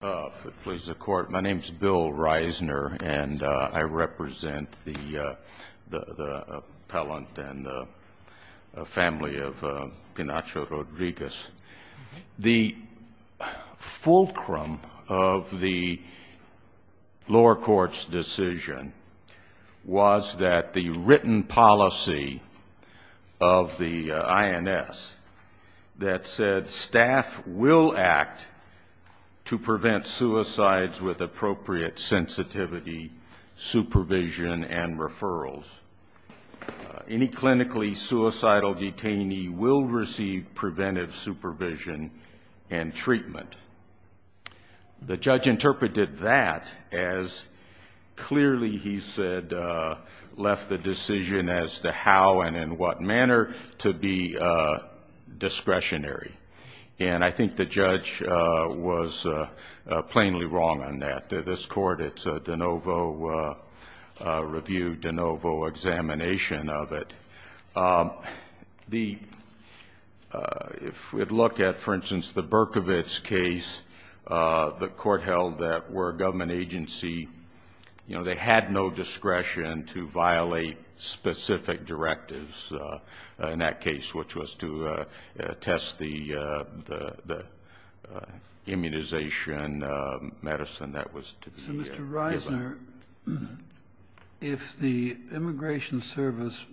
My name is Bill Reisner, and I represent the appellant and the family of Penacho Rodriguez. The fulcrum of the lower court's decision was that the written policy of the INS said staff will act to prevent suicides with appropriate sensitivity, supervision, and referrals. Any clinically suicidal detainee will receive preventive supervision and treatment. The judge interpreted that as clearly, he said, left the decision as to how and in what manner to be discretionary. And I think the judge was plainly wrong on that. This court, it's a de novo review, de novo examination of it. If we'd look at, for instance, the Berkovitz case, the court held that where a government agency, they had no discretion to violate specific directives in that case, which was to test the immunization medicine that was to be given. Mr. Reisner, if the Immigration Service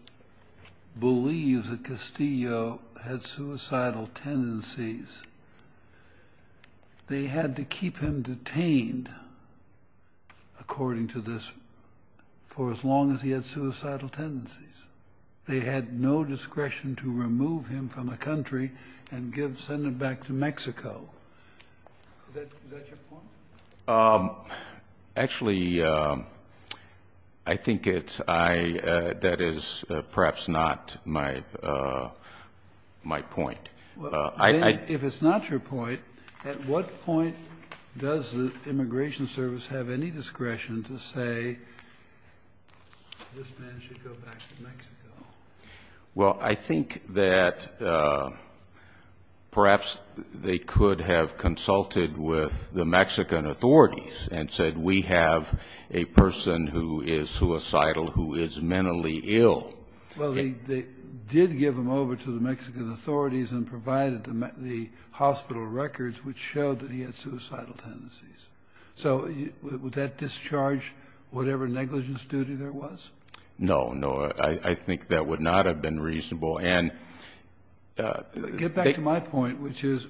believes that Castillo had suicidal tendencies, they had to keep him detained, according to this, for as long as he had suicidal tendencies. They had no discretion to remove him from the country and send him back to Mexico. Is that your point? Actually, I think that is perhaps not my point. If it's not your point, at what point does the Immigration Service have any discretion to say, this man should go back to Mexico? Well, I think that perhaps they could have consulted with the Mexican authorities and said, we have a person who is suicidal who is mentally ill. Well, they did give him over to the Mexican authorities and provided the hospital records, which showed that he had suicidal tendencies. So would that discharge whatever negligence duty there was? No, no. I think that would not have been reasonable. Get back to my point, which is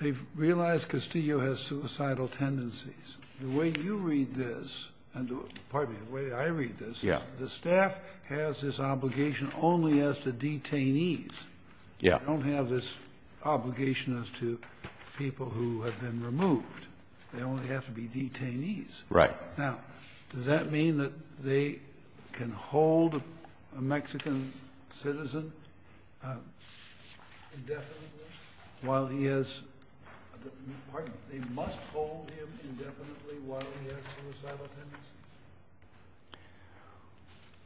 they've realized Castillo has suicidal tendencies. The way you read this, and pardon me, the way I read this, is the staff has this obligation only as to detainees. They don't have this obligation as to people who have been removed. They only have to be detainees. Right. Now, does that mean that they can hold a Mexican citizen indefinitely while he has the part? They must hold him indefinitely while he has suicidal tendencies?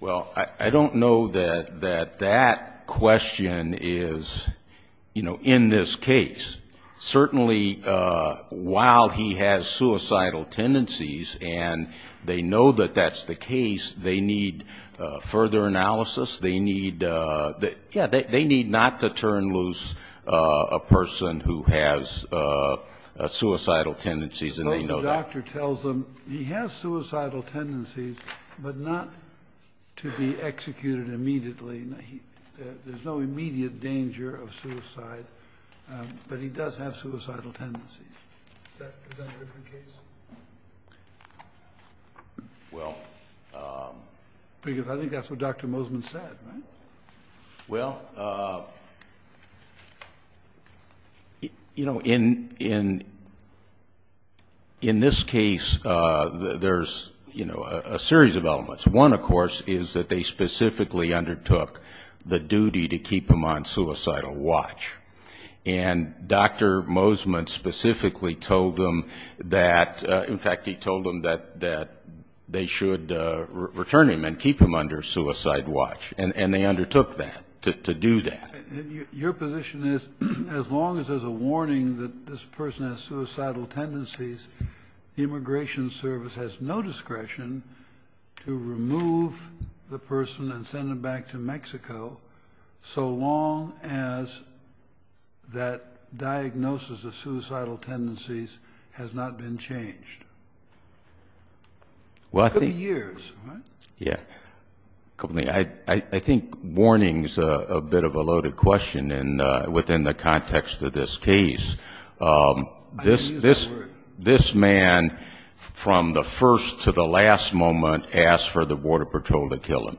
Well, I don't know that that question is, you know, in this case. Certainly while he has suicidal tendencies, and they know that that's the case, they need further analysis. They need not to turn loose a person who has suicidal tendencies, and they know that. I suppose the doctor tells them he has suicidal tendencies, but not to be executed immediately. There's no immediate danger of suicide, but he does have suicidal tendencies. Is that a different case? Well. Because I think that's what Dr. Mosman said, right? Well, you know, in this case, there's, you know, a series of elements. One, of course, is that they specifically undertook the duty to keep him on suicidal watch. And Dr. Mosman specifically told them that, in fact, he told them that they should return him and keep him under suicide watch, and they undertook that, to do that. Your position is as long as there's a warning that this person has suicidal tendencies, the Immigration Service has no discretion to remove the person and send them back to Mexico, so long as that diagnosis of suicidal tendencies has not been changed. Well, I think. It could be years, right? Yeah. I think warning is a bit of a loaded question within the context of this case. This man, from the first to the last moment, asked for the Border Patrol to kill him.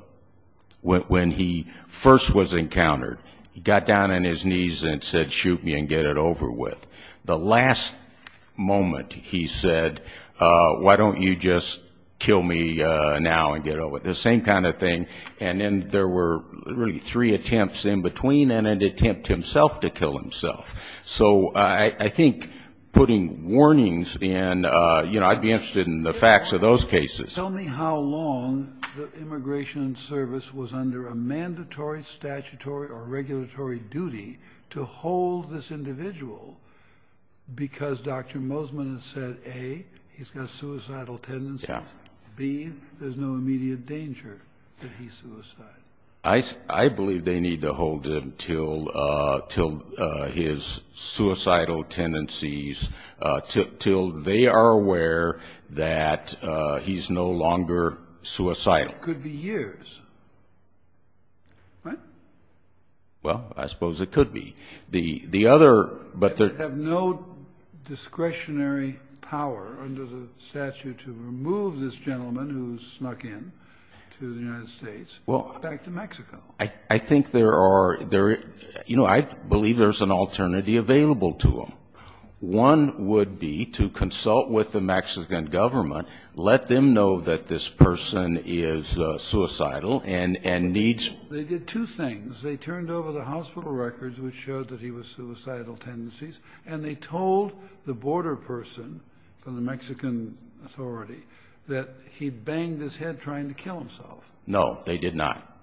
When he first was encountered, he got down on his knees and said, shoot me and get it over with. The last moment he said, why don't you just kill me now and get it over with. The same kind of thing. And then there were really three attempts in between and an attempt himself to kill himself. So I think putting warnings in, you know, I'd be interested in the facts of those cases. Tell me how long the Immigration Service was under a mandatory statutory or regulatory duty to hold this individual because Dr. Mosman has said, A, he's got suicidal tendencies, B, there's no immediate danger that he suicides. I believe they need to hold him until his suicidal tendencies, until they are aware that he's no longer suicidal. It could be years, right? Well, I suppose it could be. They have no discretionary power under the statute to remove this gentleman who snuck in to the United States. Back to Mexico. I think there are, you know, I believe there's an alternative available to them. One would be to consult with the Mexican government, let them know that this person is suicidal and needs. They did two things. They turned over the hospital records, which showed that he was suicidal tendencies, and they told the border person from the Mexican authority that he banged his head trying to kill himself. No, they did not.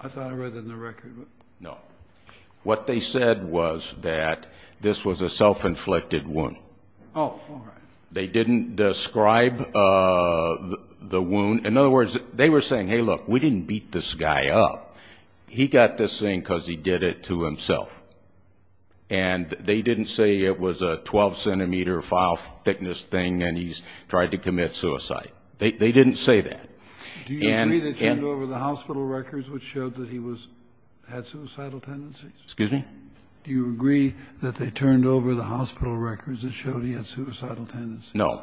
I thought I read it in the record. No. What they said was that this was a self-inflicted wound. Oh, all right. They didn't describe the wound. In other words, they were saying, hey, look, we didn't beat this guy up. He got this thing because he did it to himself. And they didn't say it was a 12-centimeter file thickness thing and he's tried to commit suicide. They didn't say that. Do you agree that they turned over the hospital records, which showed that he had suicidal tendencies? Excuse me? Do you agree that they turned over the hospital records that showed he had suicidal tendencies? No.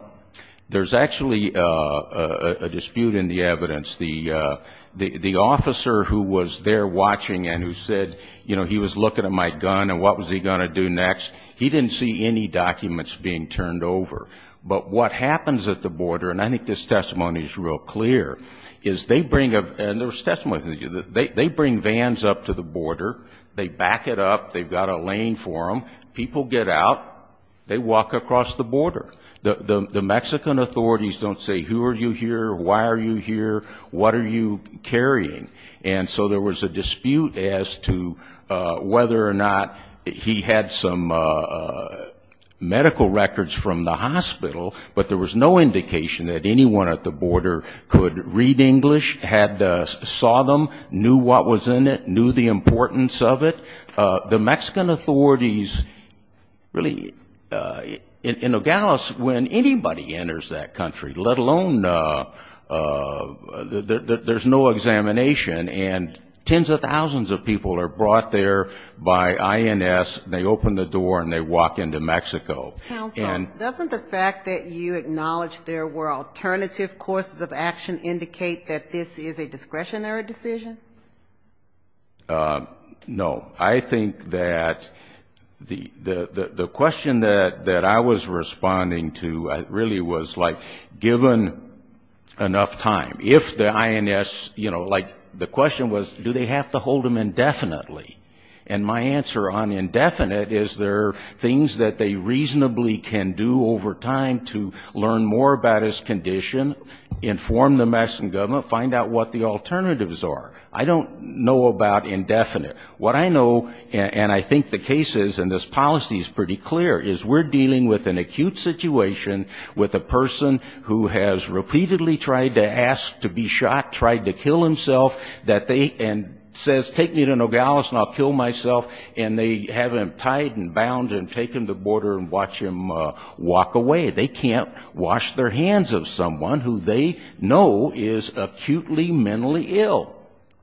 There's actually a dispute in the evidence. The officer who was there watching and who said, you know, he was looking at my gun and what was he going to do next, he didn't see any documents being turned over. But what happens at the border, and I think this testimony is real clear, is they bring, and there's testimony, they bring vans up to the border. They back it up. They've got a lane for them. People get out. They walk across the border. The Mexican authorities don't say, who are you here? Why are you here? What are you carrying? And so there was a dispute as to whether or not he had some medical records from the hospital, but there was no indication that anyone at the border could read English, saw them, knew what was in it, knew the importance of it. The Mexican authorities really, in Nogales, when anybody enters that country, let alone there's no examination, and tens of thousands of people are brought there by INS, and they open the door and they walk into Mexico. Counsel, doesn't the fact that you acknowledge there were alternative courses of action indicate that this is a discretionary decision? No. I think that the question that I was responding to really was, like, given enough time, if the INS, you know, like the question was, do they have to hold him indefinitely? And my answer on indefinite is there are things that they reasonably can do over time to learn more about his condition, inform the Mexican government, find out what the alternatives are. I don't know about indefinite. What I know, and I think the case is, and this policy is pretty clear, is we're dealing with an acute situation with a person who has repeatedly tried to ask to be shot, tried to kill himself, and says, take me to Nogales and I'll kill myself, and they have him tied and bound and take him to the border and watch him walk away. They can't wash their hands of someone who they know is acutely mentally ill.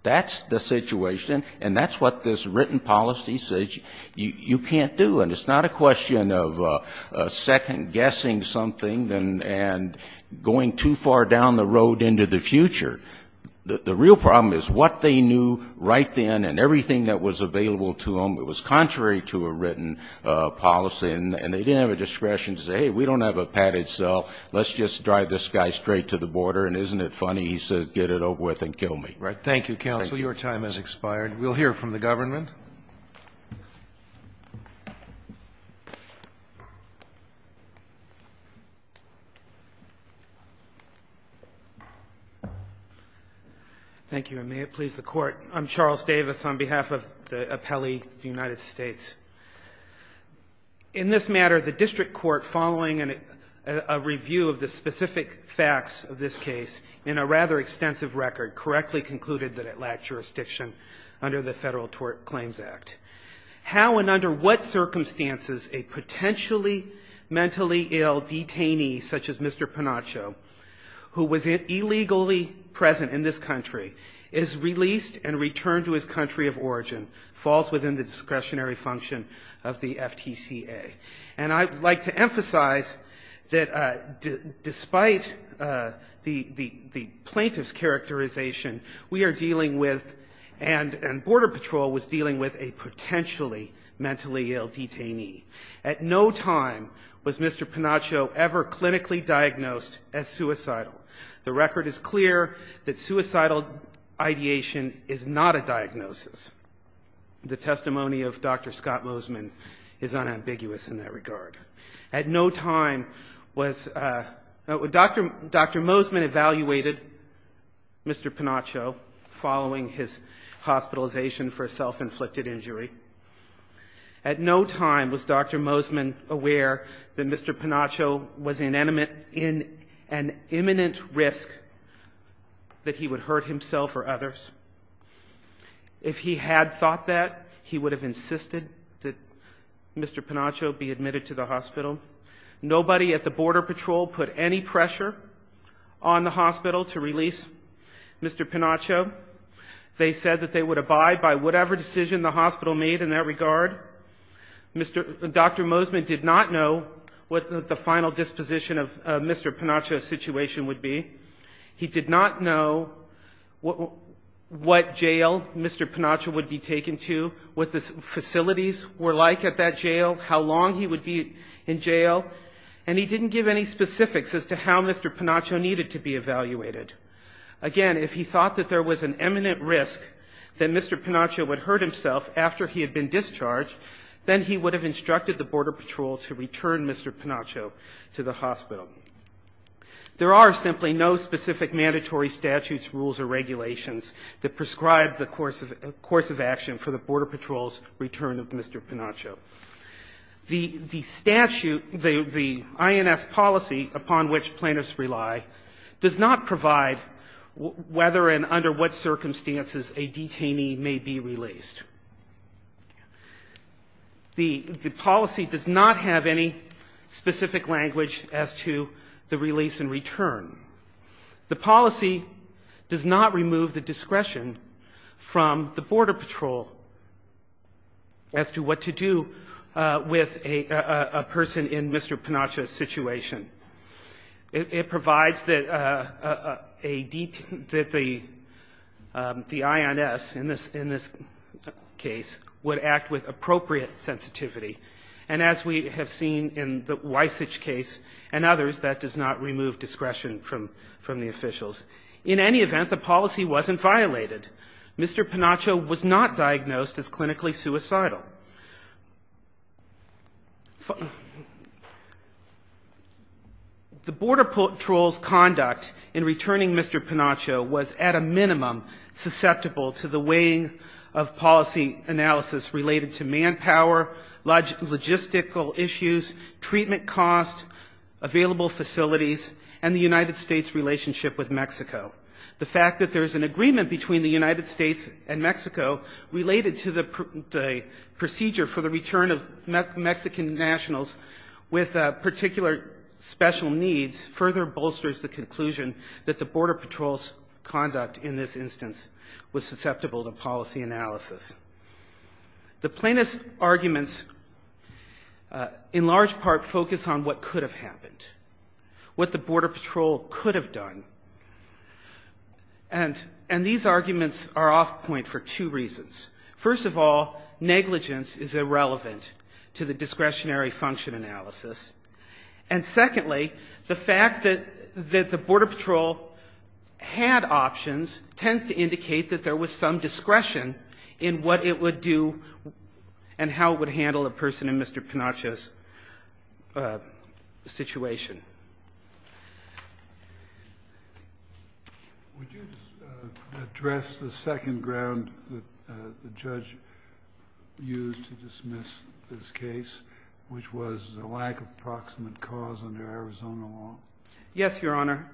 That's the situation, and that's what this written policy says you can't do. And it's not a question of second-guessing something and going too far down the road into the future. The real problem is what they knew right then and everything that was available to them, it was contrary to a written policy, and they didn't have a discretion to say, hey, we don't have a padded cell, let's just drive this guy straight to the border, and isn't it funny? He says, get it over with and kill me. Thank you, counsel. Your time has expired. We'll hear from the government. Thank you, and may it please the Court. I'm Charles Davis on behalf of the appellee of the United States. In this matter, the district court following a review of the specific facts of this case in a rather extensive record correctly concluded that it lacked jurisdiction under the Federal Tort Claims Act. How and under what circumstances a potentially mentally ill detainee such as Mr. Panaccio, who was illegally present in this country, is released and returned to his country of origin, falls within the discretionary function of the FTCA. And I'd like to emphasize that despite the plaintiff's characterization, we are dealing with and Border Patrol was dealing with a potentially mentally ill detainee. At no time was Mr. Panaccio ever clinically diagnosed as suicidal. The record is clear that suicidal ideation is not a diagnosis. The testimony of Dr. Scott Mosman is unambiguous in that regard. At no time was Dr. Mosman evaluated Mr. Panaccio following his hospitalization for a self-inflicted injury. At no time was Dr. Mosman aware that Mr. Panaccio was in an imminent risk that he would hurt himself or others. If he had thought that, he would have insisted that Mr. Panaccio be admitted to the hospital. Nobody at the Border Patrol put any pressure on the hospital to release Mr. Panaccio. They said that they would abide by whatever decision the hospital made in that regard. Dr. Mosman did not know what the final disposition of Mr. Panaccio's situation would be. He did not know what jail Mr. Panaccio would be taken to, what the facilities were like at that jail, how long he would be in jail, and he didn't give any specifics as to how Mr. Panaccio needed to be evaluated. Again, if he thought that there was an imminent risk that Mr. Panaccio would hurt himself after he had been discharged, then he would have instructed the Border Patrol to return Mr. Panaccio to the hospital. There are simply no specific mandatory statutes, rules, or regulations that prescribe the course of action for the Border Patrol's return of Mr. Panaccio. The statute, the INS policy upon which plaintiffs rely, does not provide whether and under what circumstances a detainee may be released. The policy does not have any specific language as to whether or not a detainee is allowed to continue the release and return. The policy does not remove the discretion from the Border Patrol as to what to do with a person in Mr. Panaccio's situation. It provides that a detainee, the INS in this case, would act with appropriate sensitivity. And as we have seen in the Wysich case and others, that does not remove discretion from the officials. In any event, the policy wasn't violated. Mr. Panaccio was not diagnosed as clinically suicidal. The Border Patrol's conduct in returning Mr. Panaccio was at a minimum susceptible to the weighing of policy analysis related to manpower, logistical issues, treatment costs, available facilities, and the United States relationship with Mexico. The fact that there's an agreement between the United States and Mexico related to the procedure for the return of Mexican nationals with particular special needs further bolsters the conclusion that the Border Patrol's conduct in this instance was susceptible to policy analysis. The plaintiff's arguments in large part focus on what could have happened, what the Border Patrol could have done. And these arguments are off point for two reasons. First of all, negligence is irrelevant to the discretionary function analysis. And secondly, the fact that the Border Patrol had options tends to indicate that there was some negligence in the process. So the question is, what would it do, and how it would handle a person in Mr. Panaccio's situation? Kennedy. Would you address the second ground that the judge used to dismiss this case, which was the lack of proximate cause under Arizona law? Martinez. Yes, Your Honor.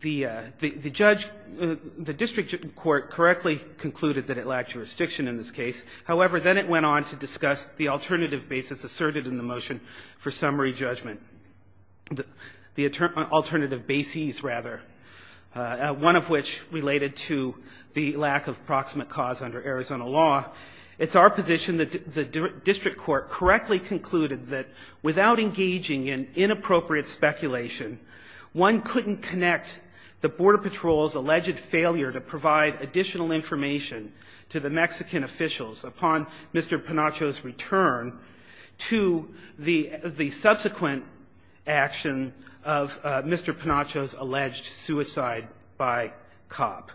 The judge, the district court, correctly concluded that it lacked jurisdiction in this case. However, then it went on to discuss the alternative basis asserted in the motion for summary judgment. The alternative bases, rather, one of which related to the lack of proximate cause under Arizona law. It's our position that the district court correctly concluded that without engaging in inappropriate speculation, one couldn't connect the Border Patrol's alleged failure to provide additional information to the Mexican officials upon Mr. Panaccio's return to the subsequent action of Mr. Panaccio's alleged suicide by cop.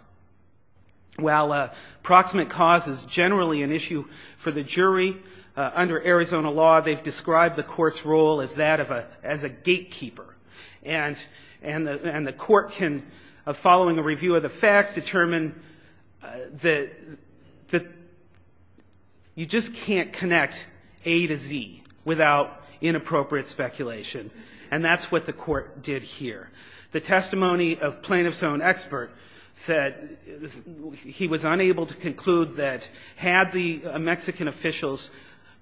While proximate cause is generally an issue for the jury, under Arizona law, they've described the court's role as that of a gatekeeper. And the court can, following a review of the facts, determine that the court has concluded that you just can't connect A to Z without inappropriate speculation. And that's what the court did here. The testimony of plaintiff's own expert said he was unable to conclude that had the Mexican officials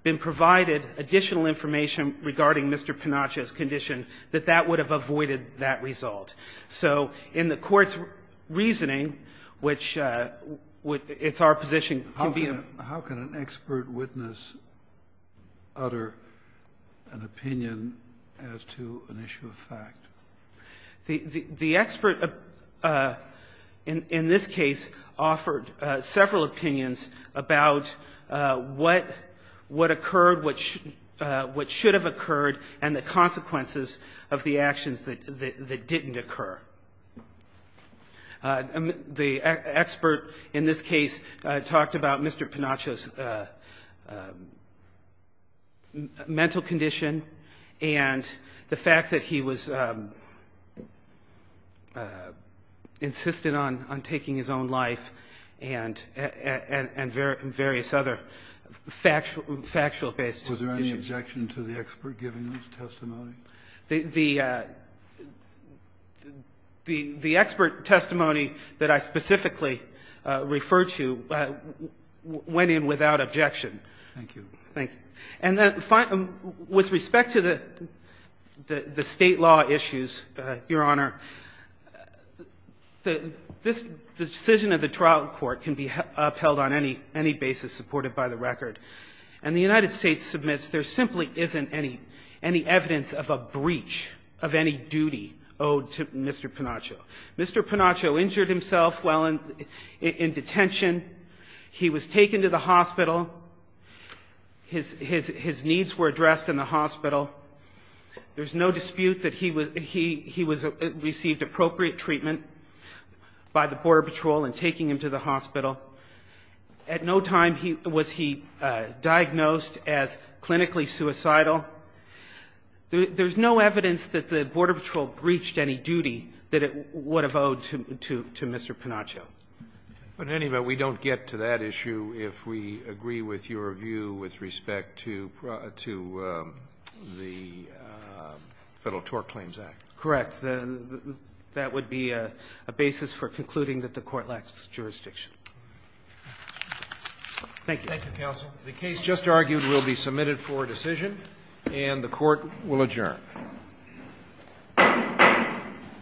been provided additional information regarding Mr. Panaccio's condition, that that would have avoided that result. So in the court's reasoning, which it's our position, it can be a How can an expert witness utter an opinion as to an issue of fact? The expert, in this case, offered several opinions about what occurred, what should have occurred, and the consequences of the actions that didn't occur. The expert, in this case, talked about Mr. Panaccio's mental condition and the fact that he was insistent on taking his own life and various other factual-based issues. Was there any objection to the expert giving this testimony? The expert testimony that I specifically referred to went in without objection. Thank you. And with respect to the State law issues, Your Honor, this decision of the trial court can be upheld on any basis supported by the record. And the United States submits there simply isn't any evidence of a breach of any duty owed to Mr. Panaccio. Mr. Panaccio injured himself while in detention. He was taken to the hospital. His needs were addressed in the hospital. There's no dispute that he received appropriate treatment by the Border Patrol in taking him to the hospital. At no time was he diagnosed as clinically suicidal. There's no evidence that the Border Patrol breached any duty that it would have owed to Mr. Panaccio. But anyway, we don't get to that issue if we agree with your view with respect to the Federal Tort Claims Act. Correct. That would be a basis for concluding that the Court lacks jurisdiction. Thank you. Thank you, counsel. The case just argued will be submitted for decision, and the Court will adjourn.